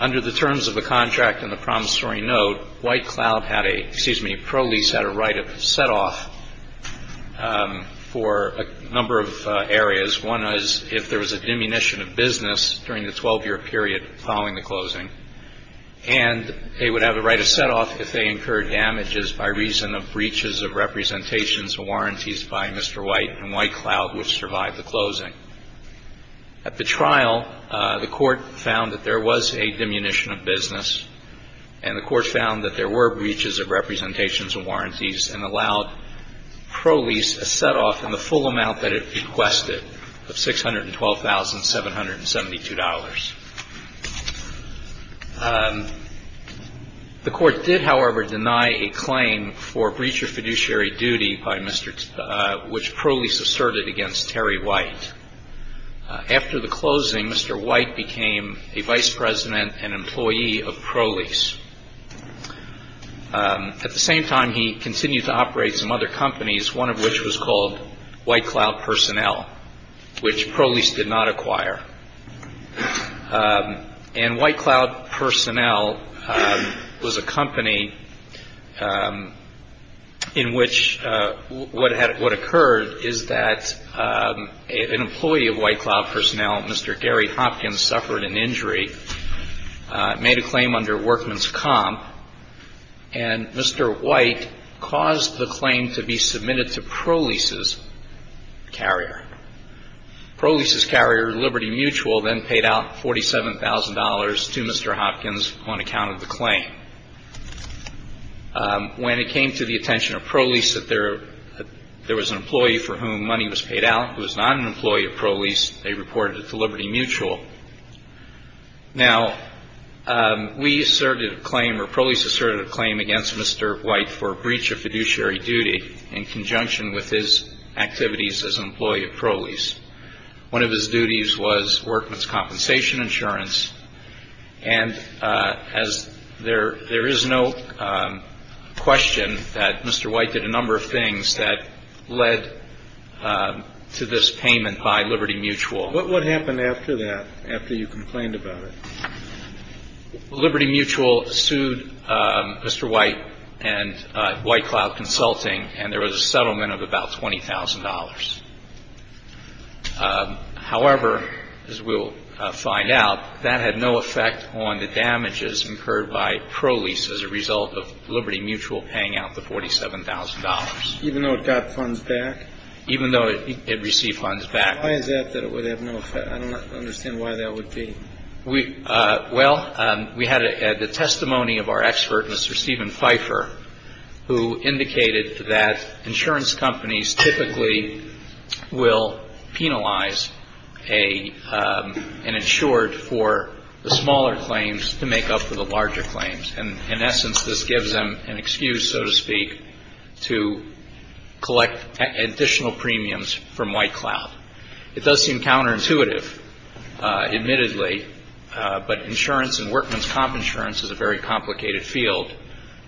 Under the terms of the contract and the promissory note, White Cloud had a, excuse me, Prolease had a right of setoff for a number of areas. One was if there was a diminution of business during the 12-year period following the closing, and they would have a right of setoff if they incurred damages by reason of breaches of representations and warranties by Mr. White, and White Cloud would survive the closing. At the trial, the Court found that there was a diminution of business, and the Court found that there were breaches of representations and warranties, and allowed Prolease a setoff in the full amount that it requested of $612,772. The Court did, however, deny a claim for breach of fiduciary duty which Prolease asserted against Terry White. After the closing, Mr. White became a vice president and employee of Prolease. At the same time, he continued to operate some other companies, one of which was called White Cloud Personnel, which Prolease did not acquire. And White Cloud Personnel was a company in which what occurred is that an employee of White Cloud Personnel, Mr. Gary Hopkins, suffered an injury, made a claim under workman's comp, and Mr. White caused the claim to be submitted to Prolease's carrier. Prolease's carrier, Liberty Mutual, then paid out $47,000 to Mr. Hopkins on account of the claim. When it came to the attention of Prolease that there was an employee for whom money was paid out who was not an employee of Prolease, they reported it to Liberty Mutual. Now, we asserted a claim, or Prolease asserted a claim against Mr. White for breach of fiduciary duty in conjunction with his activities as an employee of Prolease. One of his duties was workman's compensation insurance. And as there is no question that Mr. White did a number of things that led to this payment by Liberty Mutual. But what happened after that, after you complained about it? Liberty Mutual sued Mr. White and White Cloud Consulting, and there was a settlement of about $20,000. However, as we will find out, that had no effect on the damages incurred by Prolease as a result of Liberty Mutual paying out the $47,000. Even though it got funds back? Even though it received funds back. Why is that that it would have no effect? I don't understand why that would be. Well, we had the testimony of our expert, Mr. Stephen Pfeiffer, who indicated that insurance companies typically will penalize an insured for the smaller claims to make up for the larger claims. And in essence, this gives them an excuse, so to speak, to collect additional premiums from White Cloud. It does seem counterintuitive, admittedly. But insurance and workman's comp insurance is a very complicated field.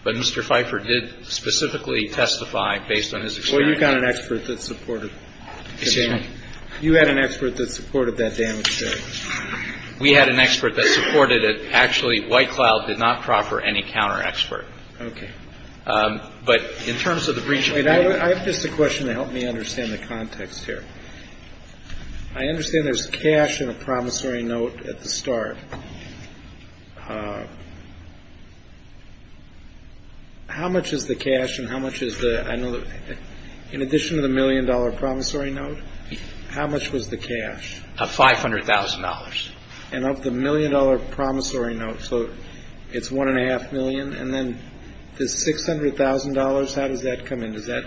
But Mr. Pfeiffer did specifically testify based on his experience. Well, you've got an expert that supported the damage. You had an expert that supported that damage, too. We had an expert that supported it. Actually, White Cloud did not proffer any counter expert. Okay. But in terms of the breach of agreement. I have just a question to help me understand the context here. I understand there's cash in a promissory note at the start. How much is the cash and how much is the, in addition to the million dollar promissory note, how much was the cash? $500,000. And of the million dollar promissory note, so it's one and a half million. And then the $600,000, how does that come in? Does that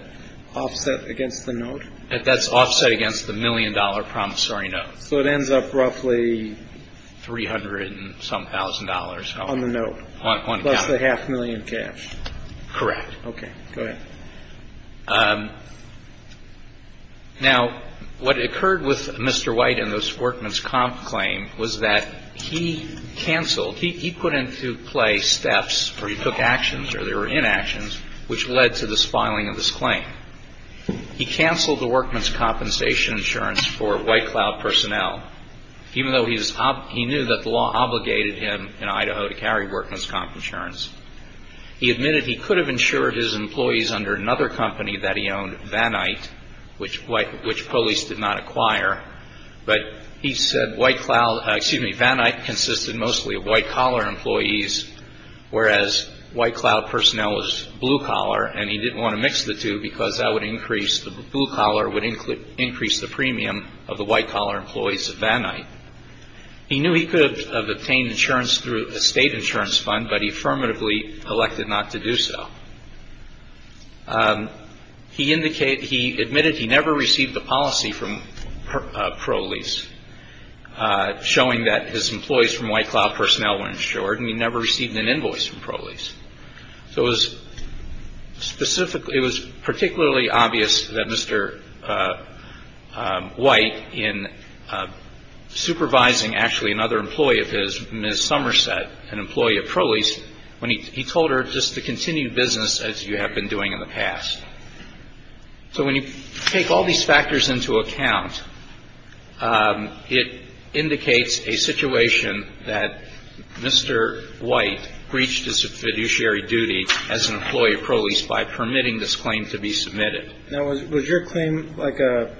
offset against the note? That's offset against the million dollar promissory note. So it ends up roughly. Three hundred and some thousand dollars. On the note. Plus the half million cash. Correct. Okay. Go ahead. Now, what occurred with Mr. White and this workman's comp claim was that he canceled. He put into play steps where he took actions or there were inactions which led to this filing of this claim. He canceled the workman's compensation insurance for White Cloud personnel. Even though he knew that the law obligated him in Idaho to carry workman's comp insurance. He admitted he could have insured his employees under another company that he owned, Vanite, which police did not acquire. But he said White Cloud, excuse me, Vanite consisted mostly of White Collar employees. Whereas White Cloud personnel was Blue Collar and he didn't want to mix the two because that would increase, the Blue Collar would increase the premium of the White Collar employees at Vanite. He knew he could have obtained insurance through a state insurance fund, but he affirmatively elected not to do so. He admitted he never received a policy from ProLease showing that his employees from White Cloud personnel were insured. And he never received an invoice from ProLease. So it was particularly obvious that Mr. White, in supervising actually another employee of his, Ms. Somerset, an employee of ProLease, when he told her just to continue business as you have been doing in the past. So when you take all these factors into account, it indicates a situation that Mr. White breached his fiduciary duty as an employee of ProLease by permitting this claim to be submitted. Now, was your claim like a,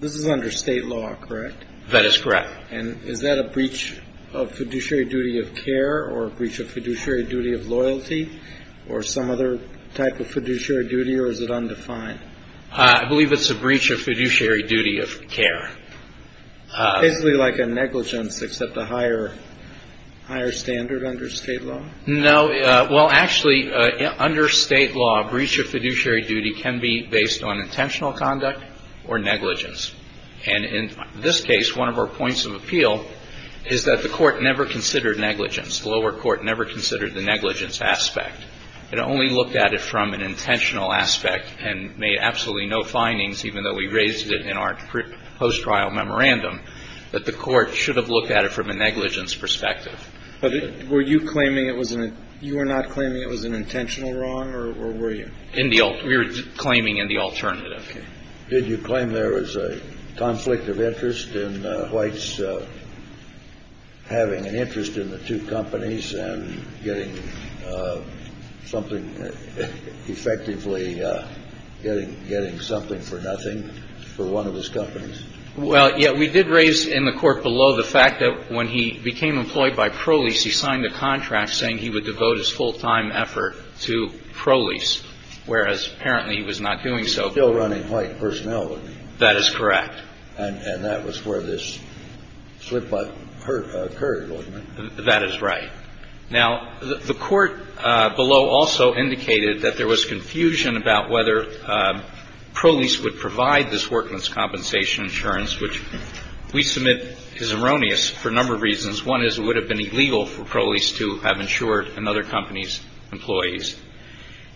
this is under state law, correct? That is correct. And is that a breach of fiduciary duty of care or a breach of fiduciary duty of loyalty or some other type of fiduciary duty or is it undefined? I believe it's a breach of fiduciary duty of care. Basically like a negligence except a higher standard under state law? No, well, actually, under state law, a breach of fiduciary duty can be based on intentional conduct or negligence. And in this case, one of our points of appeal is that the court never considered negligence. The lower court never considered the negligence aspect. It only looked at it from an intentional aspect and made absolutely no findings, even though we raised it in our post-trial memorandum, that the court should have looked at it from a negligence perspective. But were you claiming it was an, you were not claiming it was an intentional wrong or were you? In the, we were claiming in the alternative. Did you claim there was a conflict of interest in White's having an interest in the two companies and getting something effectively, getting something for nothing for one of his companies? Well, yeah, we did raise in the court below the fact that when he became employed by Prolease, he signed a contract saying he would devote his full time effort to Prolease, whereas apparently he was not doing so. He was still running White personality. That is correct. And that was where this slip up occurred, wasn't it? That is right. Now, the court below also indicated that there was confusion about whether Prolease would provide this workman's compensation insurance, which we submit is erroneous for a number of reasons. One is it would have been illegal for Prolease to have insured another company's employees.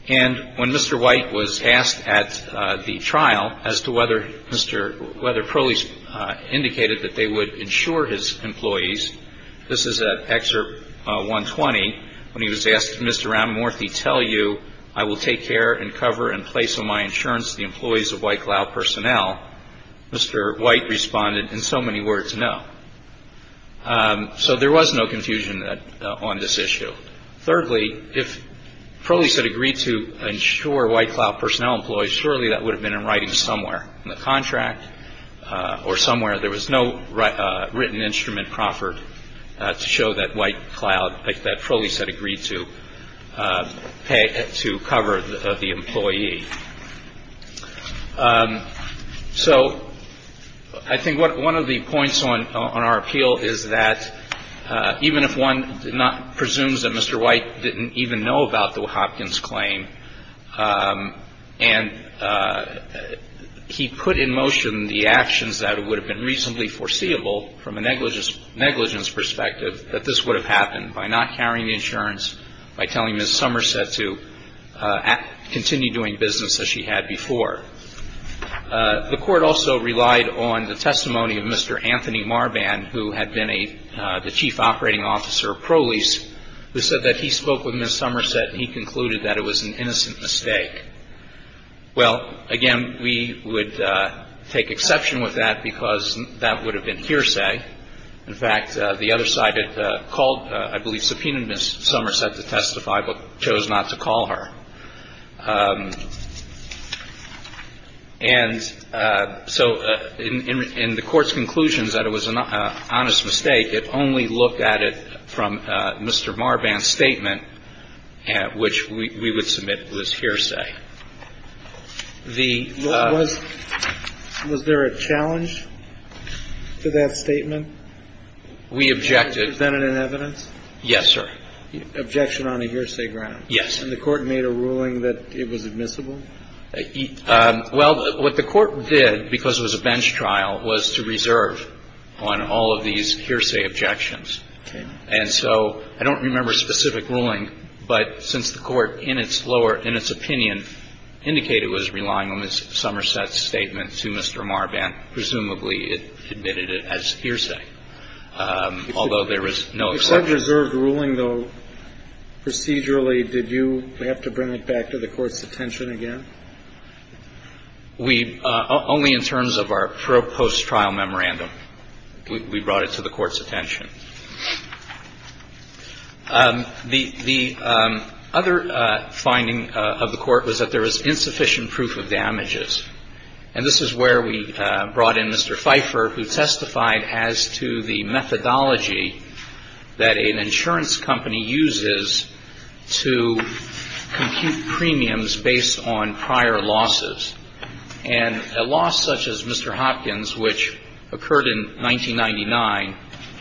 And when Mr. White was asked at the trial as to whether Mr., whether Prolease indicated that they would insure his employees, this is at Excerpt 120, when he was asked, Mr. Ramamurthy, tell you I will take care and cover and place on my insurance the employees of White Cloud Personnel, Mr. White responded in so many words, no. So there was no confusion on this issue. Thirdly, if Prolease had agreed to insure White Cloud Personnel employees, surely that would have been in writing somewhere in the contract or somewhere. There was no written instrument proffered to show that White Cloud, that Prolease had agreed to pay to cover the employee. So I think one of the points on our appeal is that even if one presumes that Mr. White didn't even know about the Hopkins claim and he put in motion the actions that would have been reasonably foreseeable from a negligence perspective, that this would have happened by not carrying the insurance, by telling Ms. Somerset to continue doing business as she had before. The Court also relied on the testimony of Mr. Anthony Marban, who had been the chief operating officer of Prolease, who said that he spoke with Ms. Somerset and he concluded that it was an innocent mistake. Well, again, we would take exception with that because that would have been hearsay. In fact, the other side had called, I believe, subpoenaed Ms. Somerset to testify but chose not to call her. And so in the Court's conclusions that it was an honest mistake, it only looked at it from Mr. Marban's statement, which we would submit was hearsay. The ---- Was there a challenge to that statement? We objected. Was that in evidence? Yes, sir. Objection on a hearsay ground? Yes. And the Court made a ruling that it was admissible? Well, what the Court did, because it was a bench trial, was to reserve on all of these hearsay objections. Okay. And so I don't remember a specific ruling, but since the Court in its lower ---- in its opinion indicated it was relying on Ms. Somerset's statement to Mr. Marban, presumably it admitted it as hearsay, although there was no exception. You said reserved ruling, though procedurally. Did you have to bring it back to the Court's attention again? We ---- only in terms of our proposed trial memorandum, we brought it to the Court's attention. The other finding of the Court was that there was insufficient proof of damages. And this is where we brought in Mr. Pfeiffer, who testified as to the methodology that an insurance company uses to compute premiums based on prior losses. And a loss such as Mr. Hopkins, which occurred in 1999,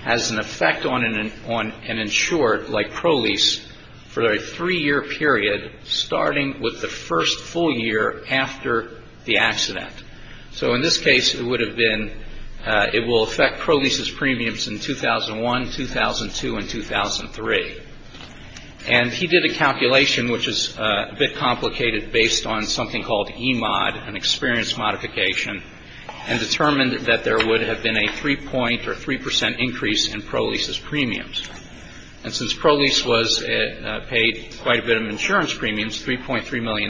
has an effect on an insured, like Prolease, for a three-year period, starting with the first full year after the accident. So in this case, it would have been ---- it will affect Prolease's premiums in 2001, 2002, and 2003. And he did a calculation which is a bit complicated based on something called EMOD, an experience modification, and determined that there would have been a 3-point or 3 percent increase in Prolease's premiums. And since Prolease was ---- paid quite a bit of insurance premiums, $3.3 million,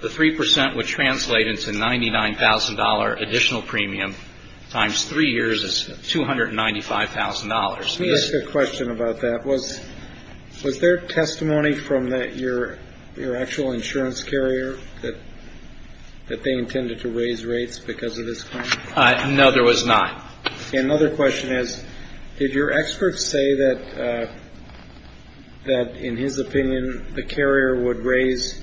the 3 percent would translate into $99,000 additional premium times three years is $295,000. Let me ask a question about that. Was there testimony from your actual insurance carrier that they intended to raise rates because of this claim? No, there was not. Okay. Another question is, did your expert say that, in his opinion, the carrier would raise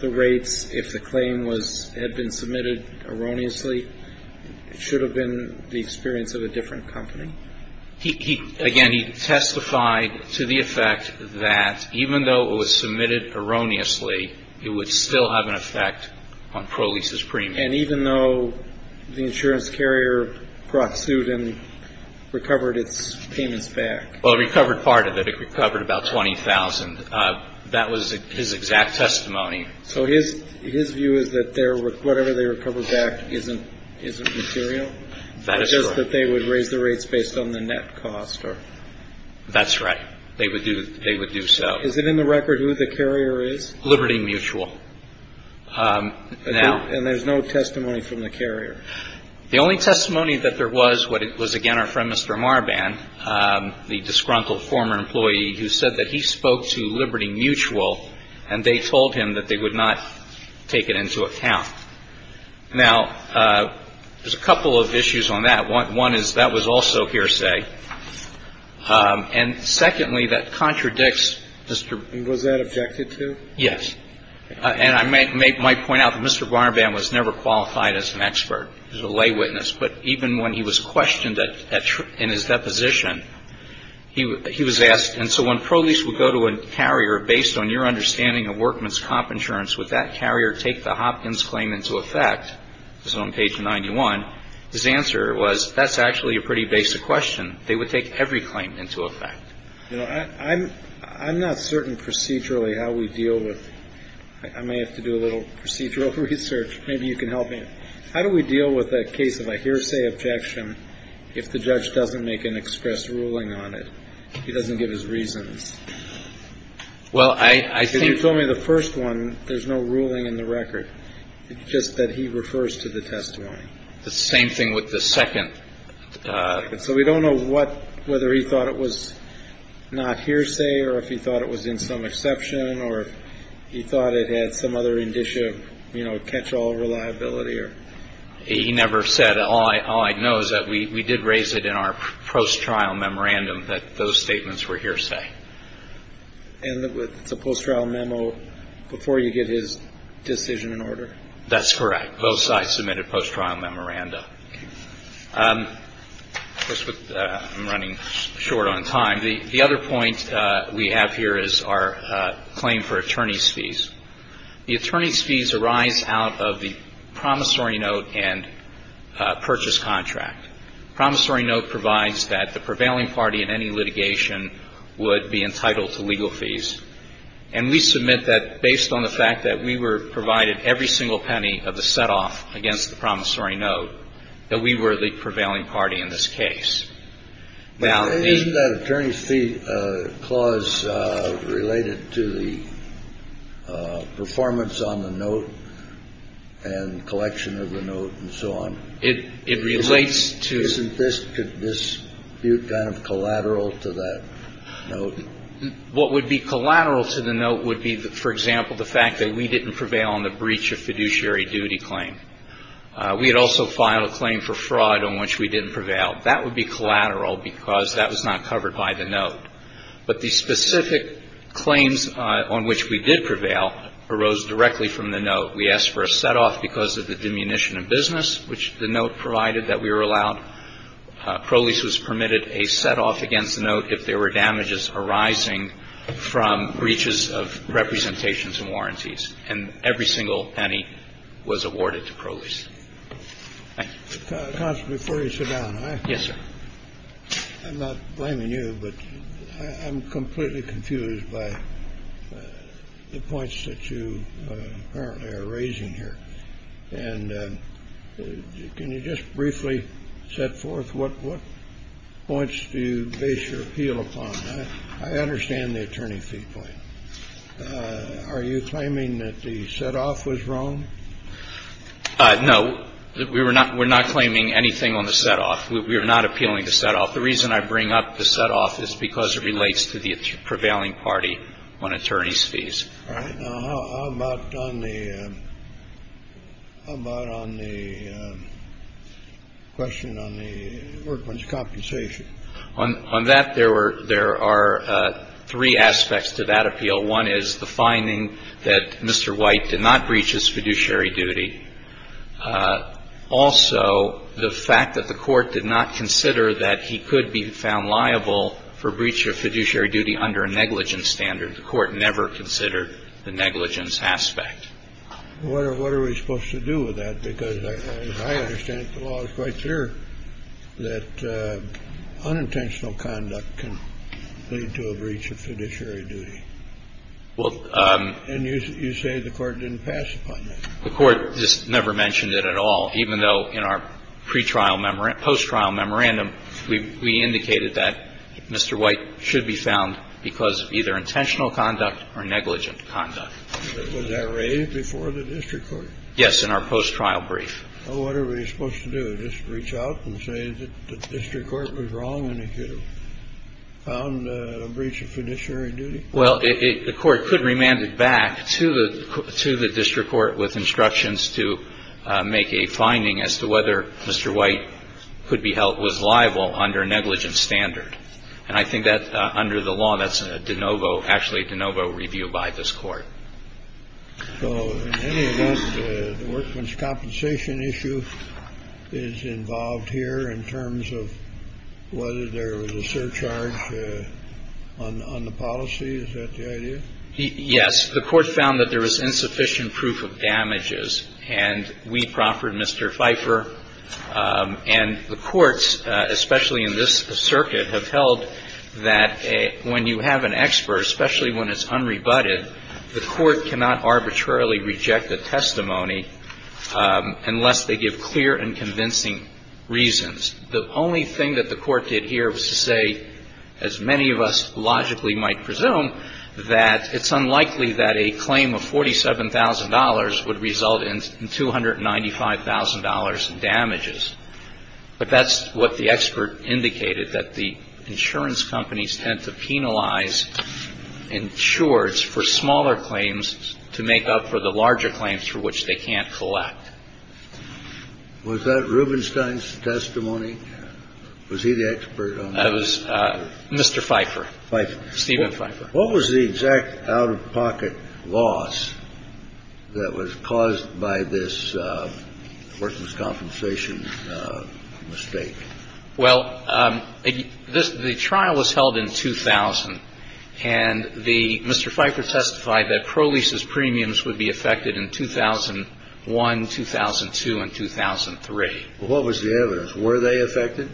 the rates if the claim had been submitted erroneously? It should have been the experience of a different company. Again, he testified to the effect that even though it was submitted erroneously, it would still have an effect on Prolease's premiums. And even though the insurance carrier brought suit and recovered its payments back? Well, it recovered part of it. It recovered about $20,000. That was his exact testimony. So his view is that whatever they recovered back isn't material? That is correct. It's not that they would raise the rates based on the net cost? That's right. They would do so. Is it in the record who the carrier is? Liberty Mutual. And there's no testimony from the carrier? The only testimony that there was was, again, our friend Mr. Marban, the disgruntled former employee who said that he spoke to Liberty Mutual and they told him that they would not take it into account. Now, there's a couple of issues on that. One is that was also hearsay. And secondly, that contradicts Mr. Was that objected to? Yes. And I might point out that Mr. Marban was never qualified as an expert. He was a lay witness. But even when he was questioned in his deposition, he was asked. And so when Prolease would go to a carrier, based on your understanding of workman's comp insurance, would that carrier take the Hopkins claim into effect? This is on page 91. His answer was, that's actually a pretty basic question. They would take every claim into effect. You know, I'm not certain procedurally how we deal with I may have to do a little procedural research. Maybe you can help me. How do we deal with a case of a hearsay objection if the judge doesn't make an express ruling on it? He doesn't give his reasons. Well, I think. Because you told me the first one, there's no ruling in the record. It's just that he refers to the testimony. The same thing with the second. So we don't know whether he thought it was not hearsay or if he thought it was in some exception or if he thought it had some other indicia of catch-all reliability. He never said. All I know is that we did raise it in our post-trial memorandum that those statements were hearsay. And it's a post-trial memo before you get his decision in order? That's correct. Both sides submitted post-trial memoranda. I'm running short on time. The other point we have here is our claim for attorney's fees. The attorney's fees arise out of the promissory note and purchase contract. Promissory note provides that the prevailing party in any litigation would be entitled to legal fees. And we submit that based on the fact that we were provided every single penny of the set-off against the promissory note, that we were the prevailing party in this case. Isn't that attorney's fee clause related to the performance on the note and collection of the note and so on? Isn't this dispute kind of collateral to that note? What would be collateral to the note would be, for example, the fact that we didn't prevail on the breach of fiduciary duty claim. We had also filed a claim for fraud on which we didn't prevail. That would be collateral because that was not covered by the note. But the specific claims on which we did prevail arose directly from the note. We asked for a set-off because of the diminution of business, which the note provided that we were allowed. Prolease was permitted a set-off against the note if there were damages arising from breaches of representations and warranties. And every single penny was awarded to Prolease. Thank you. Counsel, before you sit down, I'm not blaming you, but I'm completely confused by the points that you apparently are raising here. And can you just briefly set forth what points do you base your appeal upon? I understand the attorney's fee point. Are you claiming that the set-off was wrong? No. We're not claiming anything on the set-off. We are not appealing the set-off. The reason I bring up the set-off is because it relates to the prevailing party on attorney's fees. All right. Now, how about on the question on the workman's compensation? On that, there are three aspects to that appeal. One is the finding that Mr. White did not breach his fiduciary duty. Also, the fact that the court did not consider that he could be found liable for breach of fiduciary duty under a negligence standard. The court never considered the negligence aspect. What are we supposed to do with that? Because as I understand it, the law is quite clear that unintentional conduct can lead to a breach of fiduciary duty. And you say the court didn't pass upon that. The court just never mentioned it at all, even though in our pre-trial post-trial memorandum, we indicated that Mr. White should be found because of either intentional conduct or negligent conduct. Was that raised before the district court? Yes, in our post-trial brief. Well, what are we supposed to do? Just reach out and say that the district court was wrong and he could have found a breach of fiduciary duty? Well, the court could remand it back to the district court with instructions to make a finding as to whether Mr. White could be held was liable under negligent standard. And I think that under the law, that's a de novo, actually a de novo review by this court. So in any event, the workman's compensation issue is involved here in terms of whether there was a surcharge on the policy? Is that the idea? Yes. The court found that there was insufficient proof of damages. And we proffered, Mr. Pfeiffer, and the courts, especially in this circuit, have held that when you have an expert, especially when it's unrebutted, the court cannot arbitrarily reject a testimony unless they give clear and convincing reasons. The only thing that the court did here was to say, as many of us logically might presume, that it's unlikely that a claim of $47,000 would result in $295,000 in damages. But that's what the expert indicated, that the insurance companies tend to penalize insureds for smaller claims to make up for the larger claims for which they can't collect. Was that Rubenstein's testimony? Was he the expert on that? That was Mr. Pfeiffer. Pfeiffer. Steven Pfeiffer. What was the exact out-of-pocket loss that was caused by this workman's compensation mistake? Well, the trial was held in 2000, and Mr. Pfeiffer testified that Prolease's premiums would be affected in 2001, 2002, and 2003. Well, what was the evidence? Were they affected?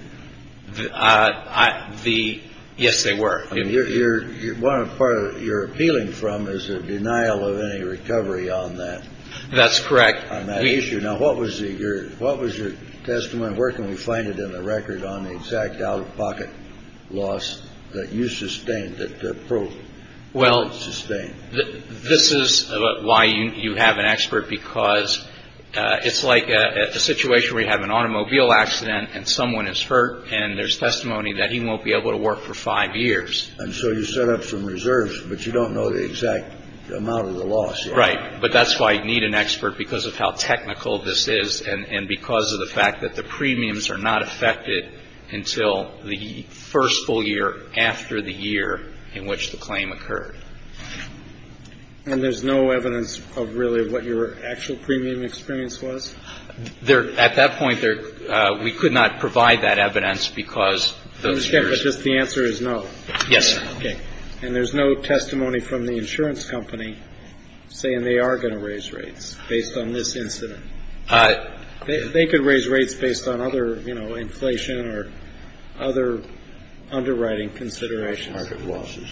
Yes, they were. One part you're appealing from is a denial of any recovery on that. That's correct. On that issue. Now, what was your testimony? Where can we find it in the record on the exact out-of-pocket loss that you sustained, that Prolease sustained? Well, this is why you have an expert, because it's like a situation where you have an automobile accident and someone is hurt, and there's testimony that he won't be able to work for five years. And so you set up some reserves, but you don't know the exact amount of the loss. Right. But that's why you need an expert, because of how technical this is, and because of the fact that the premiums are not affected until the first full year after the year in which the claim occurred. And there's no evidence of really what your actual premium experience was? At that point, we could not provide that evidence because those years. But just the answer is no? Yes, sir. Okay. And there's no testimony from the insurance company saying they are going to raise rates based on this incident? They could raise rates based on other, you know, inflation or other underwriting considerations.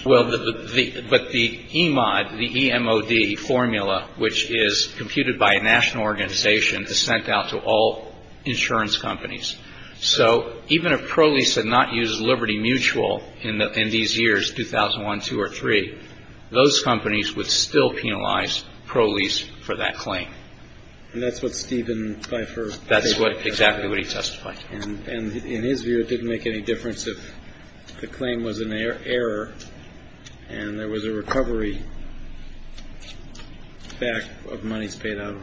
Well, but the EMOD, the E-M-O-D formula, which is computed by a national organization, is sent out to all insurance companies. So even if Prolease had not used Liberty Mutual in these years, 2001, 2 or 3, those companies would still penalize Prolease for that claim. And that's what Stephen Pfeiffer... That's exactly what he testified. And in his view, it didn't make any difference if the claim was an error and there was a recovery back of monies paid out.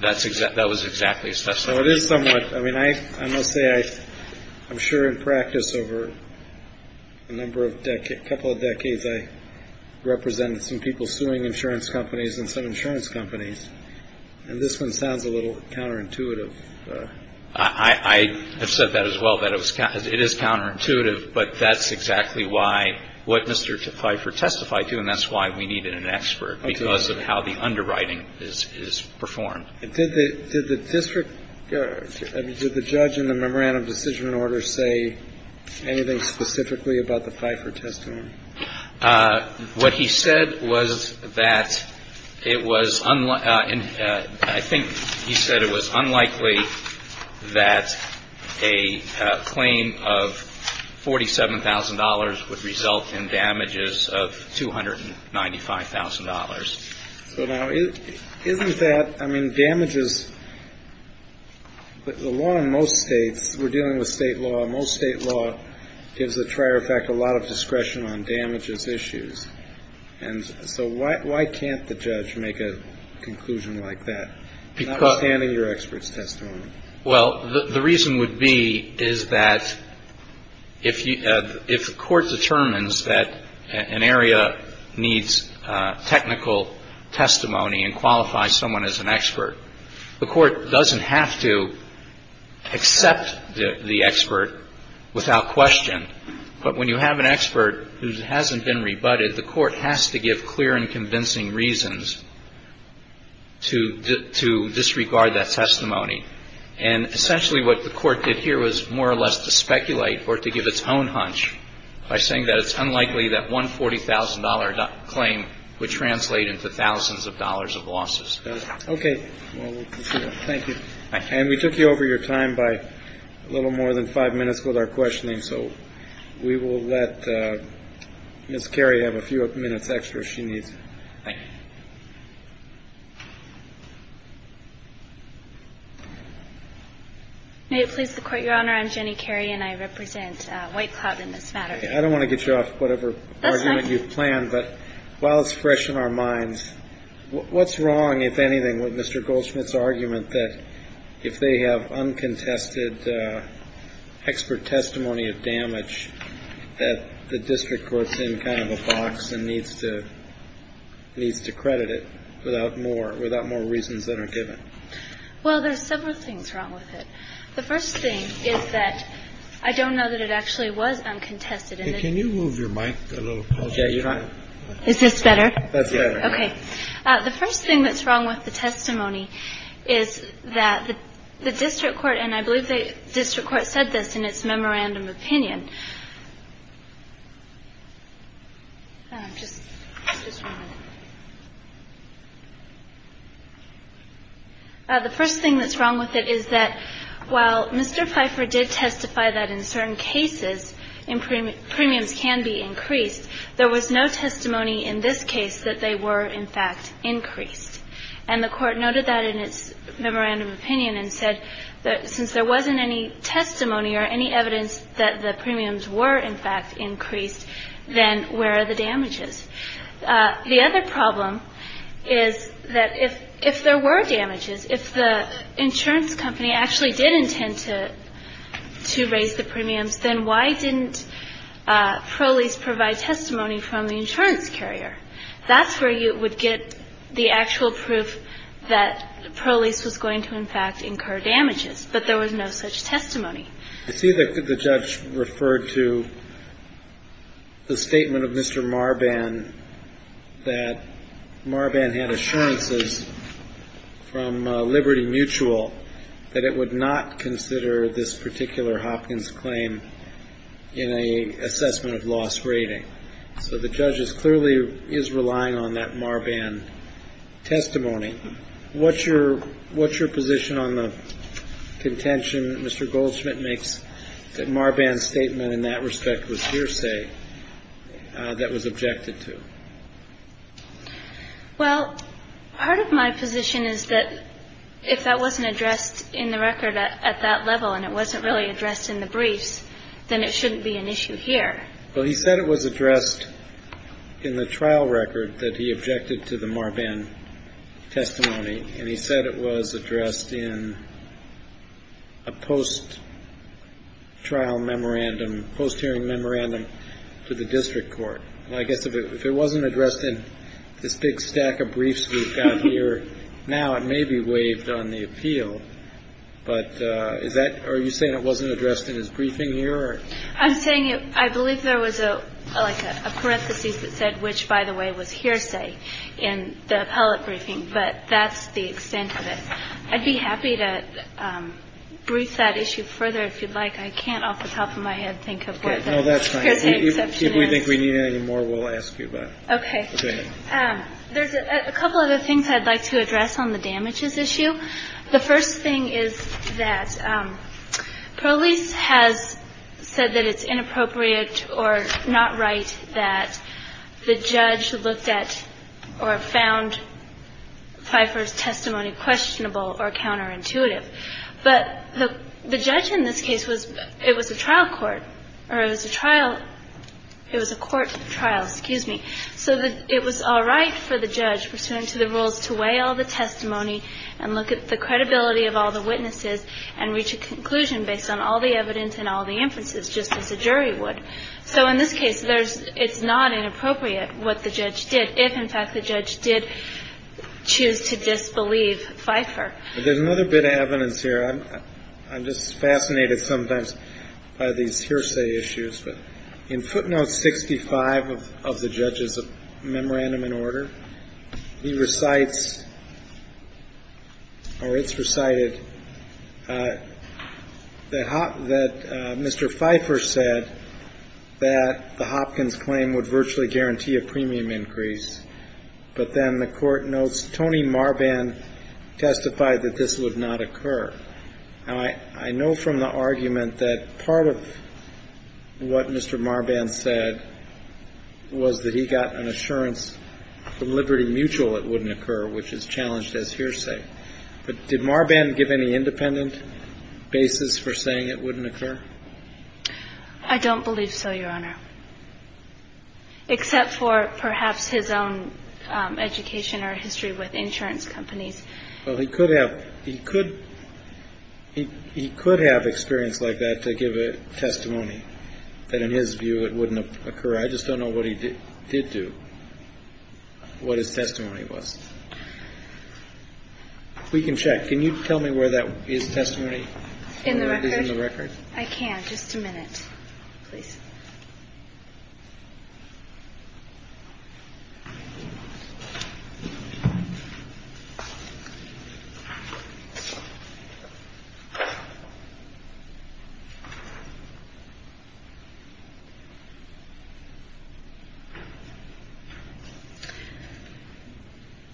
That was exactly his testimony. Well, it is somewhat. I mean, I must say I'm sure in practice over a number of decades, a couple of decades, I represented some people suing insurance companies and some insurance companies. And this one sounds a little counterintuitive. I have said that as well, that it is counterintuitive. But that's exactly what Mr. Pfeiffer testified to. And that's why we needed an expert, because of how the underwriting is performed. Did the district, did the judge in the memorandum of decision order say anything specifically about the Pfeiffer testimony? What he said was that it was, I think he said it was unlikely that a claim of $47,000 would result in damages of $295,000. So now, isn't that, I mean, damages, but the law in most states, we're dealing with state law, most state law gives the trier effect a lot of discretion on damages issues. And so why can't the judge make a conclusion like that, notwithstanding your expert's testimony? Well, the reason would be is that if the court determines that an area needs technical testimony and qualifies someone as an expert, the court doesn't have to accept the expert without question. But when you have an expert who hasn't been rebutted, the court has to give clear and convincing reasons to disregard that testimony. And essentially what the court did here was more or less to speculate or to give its own hunch by saying that it's unlikely that one $40,000 claim would translate into thousands of dollars of losses. Okay. Thank you. And we took you over your time by a little more than five minutes with our questioning, so we will let Ms. Carey have a few minutes extra if she needs. May it please the Court, Your Honor. I'm Jenny Carey and I represent White Cloud in this matter. I don't want to get you off whatever argument you've planned, but while it's fresh in our minds, what's wrong, if anything, with Mr. Goldschmidt's argument that if they have uncontested expert testimony of damage that the district court's in kind of a box and needs to credit it without more, without more reasons that are given? Well, there's several things wrong with it. The first thing is that I don't know that it actually was uncontested. Can you move your mic a little closer? Is this better? That's better. Okay. The first thing that's wrong with the testimony is that the district court, and I believe the district court said this in its memorandum opinion. The first thing that's wrong with it is that while Mr. Pfeiffer did testify that in certain cases premiums can be increased, there was no testimony in this case that they were, in fact, increased. And the Court noted that in its memorandum opinion and said that since there wasn't any testimony or any evidence that the premiums were, in fact, increased, then where are the damages? The other problem is that if there were damages, if the insurance company actually did intend to raise the premiums, then why didn't Prolease provide testimony from the insurance carrier? That's where you would get the actual proof that Prolease was going to, in fact, incur damages. But there was no such testimony. I see that the judge referred to the statement of Mr. Marban that Marban had assurances from Liberty Mutual that it would not consider this particular Hopkins claim in an assessment of loss rating. So the judge clearly is relying on that Marban testimony. What's your position on the contention that Mr. Goldschmidt makes that Marban's statement in that respect was hearsay that was objected to? Well, part of my position is that if that wasn't addressed in the record at that level and it wasn't really addressed in the briefs, then it shouldn't be an issue here. Well, he said it was addressed in the trial record that he objected to the Marban testimony, and he said it was addressed in a post-trial memorandum, post-hearing memorandum to the district court. I guess if it wasn't addressed in this big stack of briefs we've got here now, it may be waived on the appeal. But is that or are you saying it wasn't addressed in his briefing here? I'm saying I believe there was like a parenthesis that said which, by the way, was not addressed in the Marban testimony. But that's the extent of it. I'd be happy to brief that issue further if you'd like. I can't off the top of my head think of what the hearsay exception is. Okay. No, that's fine. If we think we need any more, we'll ask you about it. Okay. Go ahead. There's a couple of other things I'd like to address on the damages issue. The first thing is that police has said that it's inappropriate or not right that the judge looked at or found Pfeiffer's testimony questionable or counterintuitive. But the judge in this case was – it was a trial court or it was a trial – it was a court trial, excuse me. So it was all right for the judge, pursuant to the rules, to weigh all the testimony and look at the credibility of all the witnesses and reach a conclusion based on all the evidence and all the inferences, just as a jury would. So in this case, there's – it's not inappropriate what the judge did if, in fact, the judge did choose to disbelieve Pfeiffer. But there's another bit of evidence here. I'm just fascinated sometimes by these hearsay issues. In footnote 65 of the judge's memorandum in order, he recites or it's recited that Mr. Pfeiffer said that the Hopkins claim would virtually guarantee a premium increase, but then the court notes Tony Marban testified that this would not occur. Now, I know from the argument that part of what Mr. Marban said was that he got an assurance from Liberty Mutual it wouldn't occur, which is challenged as hearsay. But did Marban give any independent basis for saying it wouldn't occur? I don't believe so, Your Honor, except for perhaps his own education or history with insurance companies. Well, he could have – he could – he could have experience like that to give a testimony that, in his view, it wouldn't occur. I just don't know what he did do, what his testimony was. We can check. Can you tell me where that is testimony? In the record? Is it in the record? I can. Just a minute, please.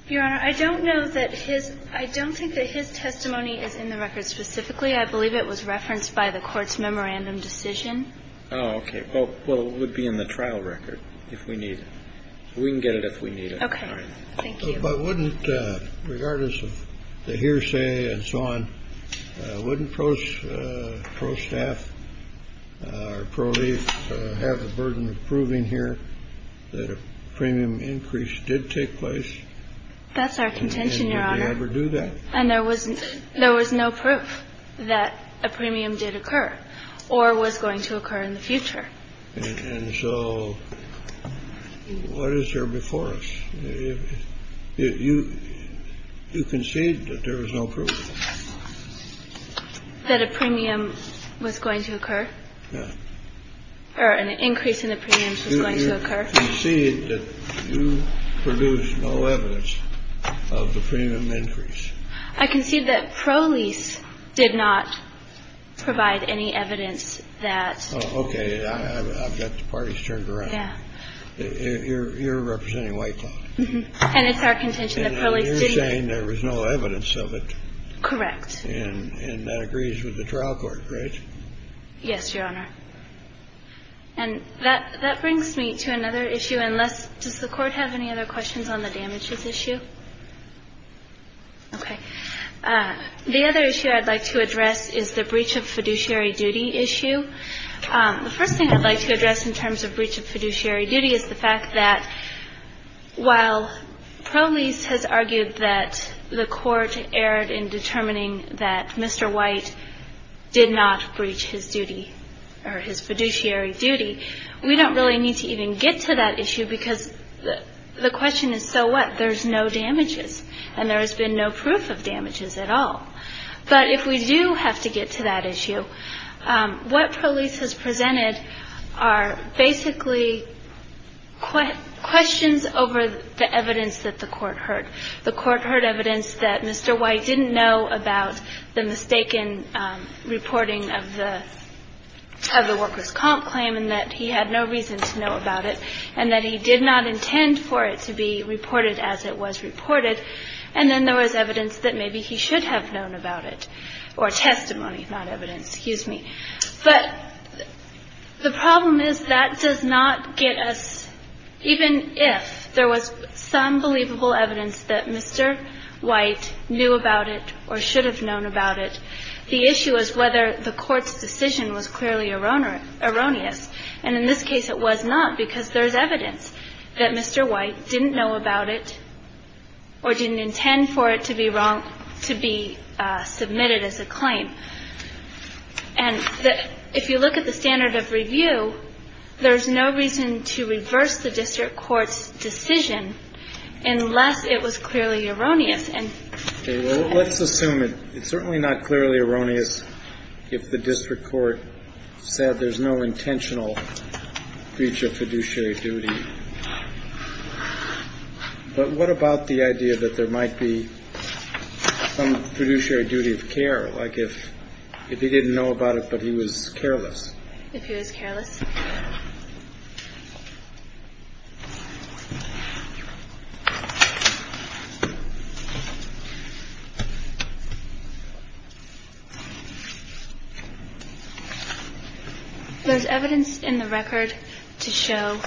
Your Honor, I don't know that his – I don't think that his testimony is in the record specifically. I believe it was referenced by the court's memorandum decision. Oh, okay. Well, it would be in the trial record if we need it. We can get it if we need it. Okay. Thank you. But wouldn't – regardless of the hearsay and so on, wouldn't pro-staff or pro-leaf have the burden of proving here that a premium increase did take place? That's our contention, Your Honor. And would we ever do that? And there was no proof that a premium did occur or was going to occur in the future. And so what is there before us? You concede that there was no proof. That a premium was going to occur. Yeah. Or an increase in the premiums was going to occur. I concede that you produce no evidence of the premium increase. I concede that pro-lease did not provide any evidence that – Oh, okay. I've got the parties turned around. Yeah. You're representing White Claw. And it's our contention that pro-lease didn't – And you're saying there was no evidence of it. Correct. And that agrees with the trial court, right? Yes, Your Honor. And that brings me to another issue. Does the Court have any other questions on the damages issue? Okay. The other issue I'd like to address is the breach of fiduciary duty issue. The first thing I'd like to address in terms of breach of fiduciary duty is the fact that while pro-lease has argued that the court erred in determining that Mr. White did not breach his duty or his fiduciary duty, we don't really need to even get to that issue because the question is, so what? There's no damages. And there has been no proof of damages at all. But if we do have to get to that issue, what pro-lease has presented are basically questions over the evidence that the court heard. The court heard evidence that Mr. White didn't know about the mistaken reporting of the worker's comp claim and that he had no reason to know about it and that he did not intend for it to be reported as it was reported. And then there was evidence that maybe he should have known about it, or testimony, not evidence. Excuse me. But the problem is that does not get us, even if there was some believable evidence that Mr. White knew about it or should have known about it, the issue is whether the court's decision was clearly erroneous. And in this case, it was not because there's evidence that Mr. White didn't know about it or didn't intend for it to be wrong And if you look at the standard of review, there's no reason to reverse the district court's decision unless it was clearly erroneous. Let's assume it's certainly not clearly erroneous if the district court said there's no intentional breach of fiduciary duty. But what about the idea that there might be some fiduciary duty of care? Like if if he didn't know about it, but he was careless, if he was careless. There's evidence in the record to show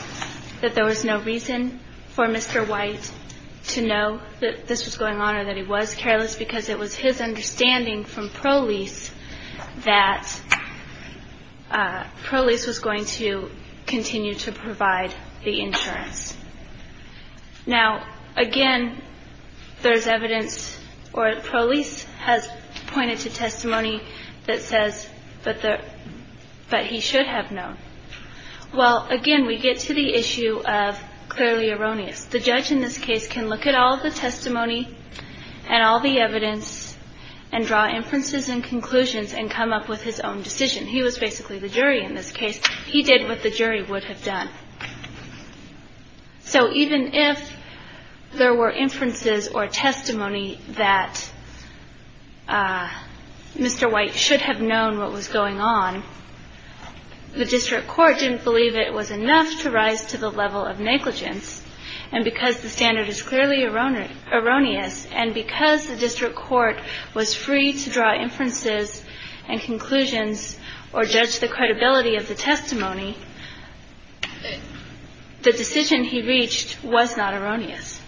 that there was no reason for Mr. White to know that this was going on or that he was careless because it was his understanding from pro-lease that pro-lease was going to continue to provide the insurance. Now, again, there's evidence or pro-lease has pointed to testimony that says that he should have known. Well, again, we get to the issue of clearly erroneous. The judge in this case can look at all the testimony and all the evidence and draw inferences and conclusions and come up with his own decision. He was basically the jury in this case. He did what the jury would have done. So even if there were inferences or testimony that Mr. White should have known what was going on, the district court didn't believe it was enough to rise to the level of negligence. And because the standard is clearly erroneous and because the district court was free to draw inferences and conclusions or judge the credibility of the testimony, the decision he reached was not erroneous.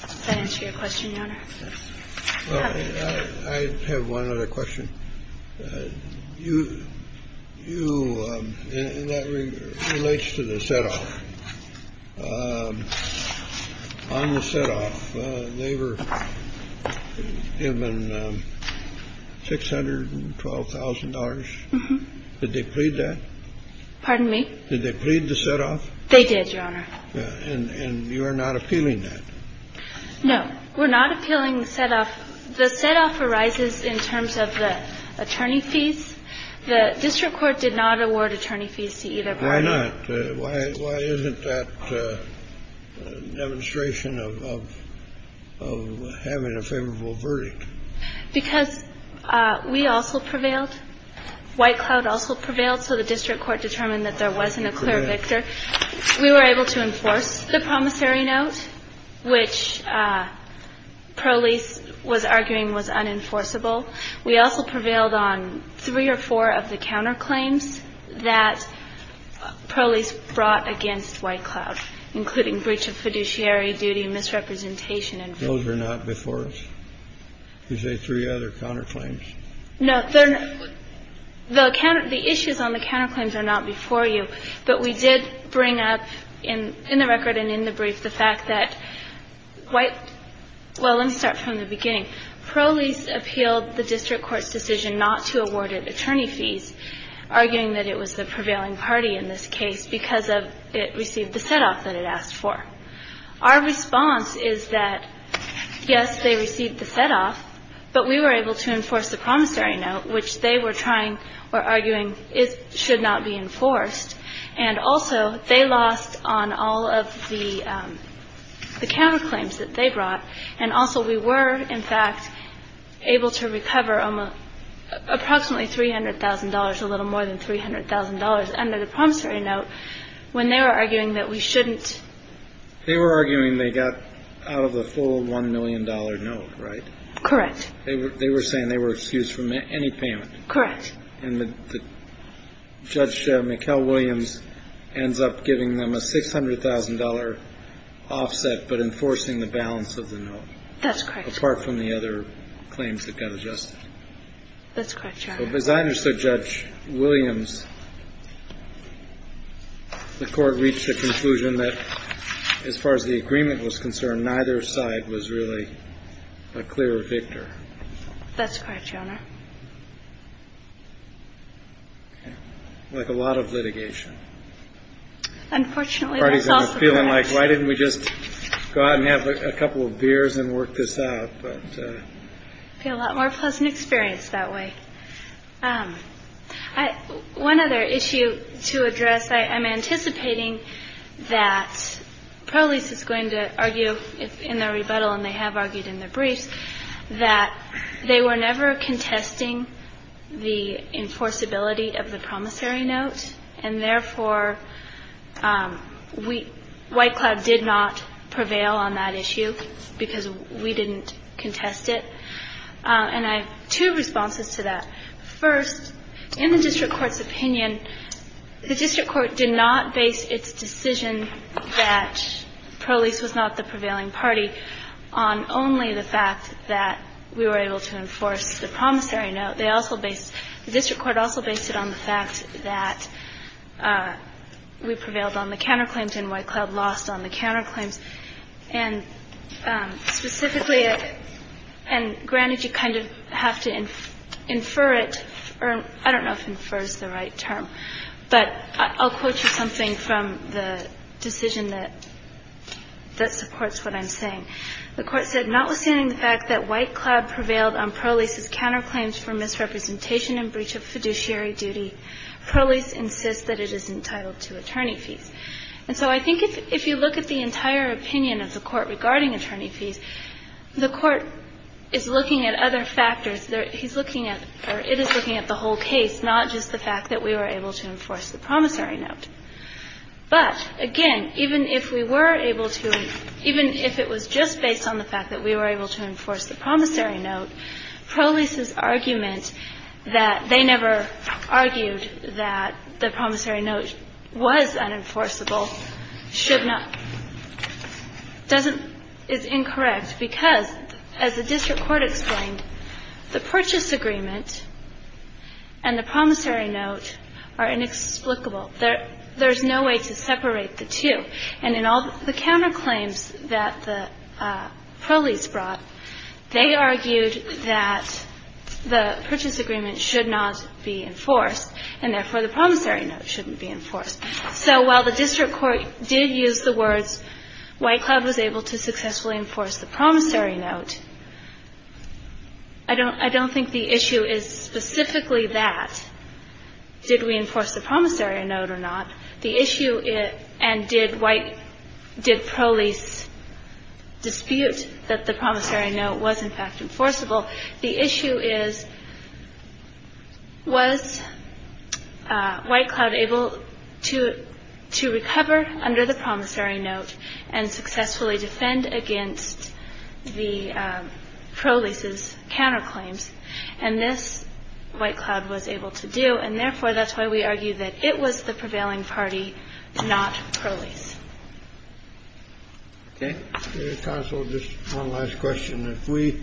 Does that answer your question, Your Honor? I have one other question. You – you – and that relates to the set-off. On the set-off, they were given $612,000. Did they plead that? Pardon me? Did they plead the set-off? They did, Your Honor. And you are not appealing that? No. We're not appealing the set-off. The set-off arises in terms of the attorney fees. The district court did not award attorney fees to either party. Why not? Why isn't that demonstration of having a favorable verdict? Because we also prevailed. White Cloud also prevailed. So the district court determined that there wasn't a clear victor. We were able to enforce the promissory note, which Prolease was arguing was unenforceable. We also prevailed on three or four of the counterclaims that Prolease brought against White Cloud, including breach of fiduciary duty, misrepresentation and fraud. Those are not before us? You say three other counterclaims? No. The issues on the counterclaims are not before you, but we did bring up in the record and in the brief the fact that White – well, let me start from the beginning. Prolease appealed the district court's decision not to award it attorney fees, arguing that it was the prevailing party in this case because it received the set-off that it asked for. Our response is that, yes, they received the set-off, but we were able to enforce the promissory note, which they were trying or arguing should not be enforced. And also they lost on all of the counterclaims that they brought, and also we were, in fact, able to recover approximately $300,000, a little more than $300,000, under the promissory note when they were arguing that we shouldn't. They were arguing they got out of the full $1 million note, right? Correct. They were saying they were excused from any payment. Correct. And Judge McHale-Williams ends up giving them a $600,000 offset but enforcing the balance of the note. That's correct. Apart from the other claims that got adjusted. That's correct, Your Honor. So as I understood Judge Williams, the court reached the conclusion that as far as the That's correct, Your Honor. Like a lot of litigation. Unfortunately, that's also correct. Part of me is feeling like, why didn't we just go out and have a couple of beers and work this out? It would be a lot more pleasant experience that way. One other issue to address, I'm anticipating that Pro Lease is going to argue in their briefs that they were never contesting the enforceability of the promissory note. And therefore, White Cloud did not prevail on that issue because we didn't contest it. And I have two responses to that. First, in the district court's opinion, the district court did not base its decision that Pro Lease was not the prevailing party on only the fact that we were able to enforce the promissory note. They also based the district court also based it on the fact that we prevailed on the counterclaims and White Cloud lost on the counterclaims. And specifically, and granted, you kind of have to infer it. I don't know if infer is the right term. But I'll quote you something from the decision that supports what I'm saying. The Court said, Notwithstanding the fact that White Cloud prevailed on Pro Lease's counterclaims for misrepresentation and breach of fiduciary duty, Pro Lease insists that it is entitled to attorney fees. And so I think if you look at the entire opinion of the Court regarding attorney fees, the Court is looking at other factors. He's looking at, or it is looking at the whole case, not just the fact that we were able to enforce the promissory note. But, again, even if we were able to, even if it was just based on the fact that we were able to enforce the promissory note, Pro Lease's argument that they never argued that the promissory note was unenforceable should not, doesn't, is incorrect because, as the district court explained, the purchase agreement and the promissory note are inexplicable. There's no way to separate the two. And in all the counterclaims that the Pro Lease brought, they argued that the purchase agreement should not be enforced and, therefore, the promissory note shouldn't be enforced. So while the district court did use the words, White Cloud was able to successfully enforce the promissory note, I don't think the issue is specifically that. Did we enforce the promissory note or not? The issue, and did White, did Pro Lease dispute that the promissory note was, in fact, enforceable? The issue is, was White Cloud able to recover under the promissory note and successfully defend against the Pro Lease's counterclaims? And this, White Cloud was able to do. And, therefore, that's why we argue that it was the prevailing party, not Pro Lease. Okay. Counsel, just one last question. If we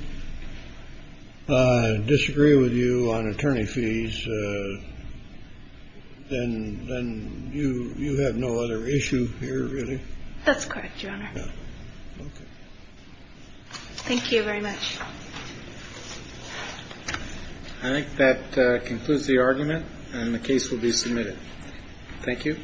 disagree with you on attorney fees, then you have no other issue here, really? That's correct, Your Honor. Okay. Thank you very much. I think that concludes the argument, and the case will be submitted. Thank you.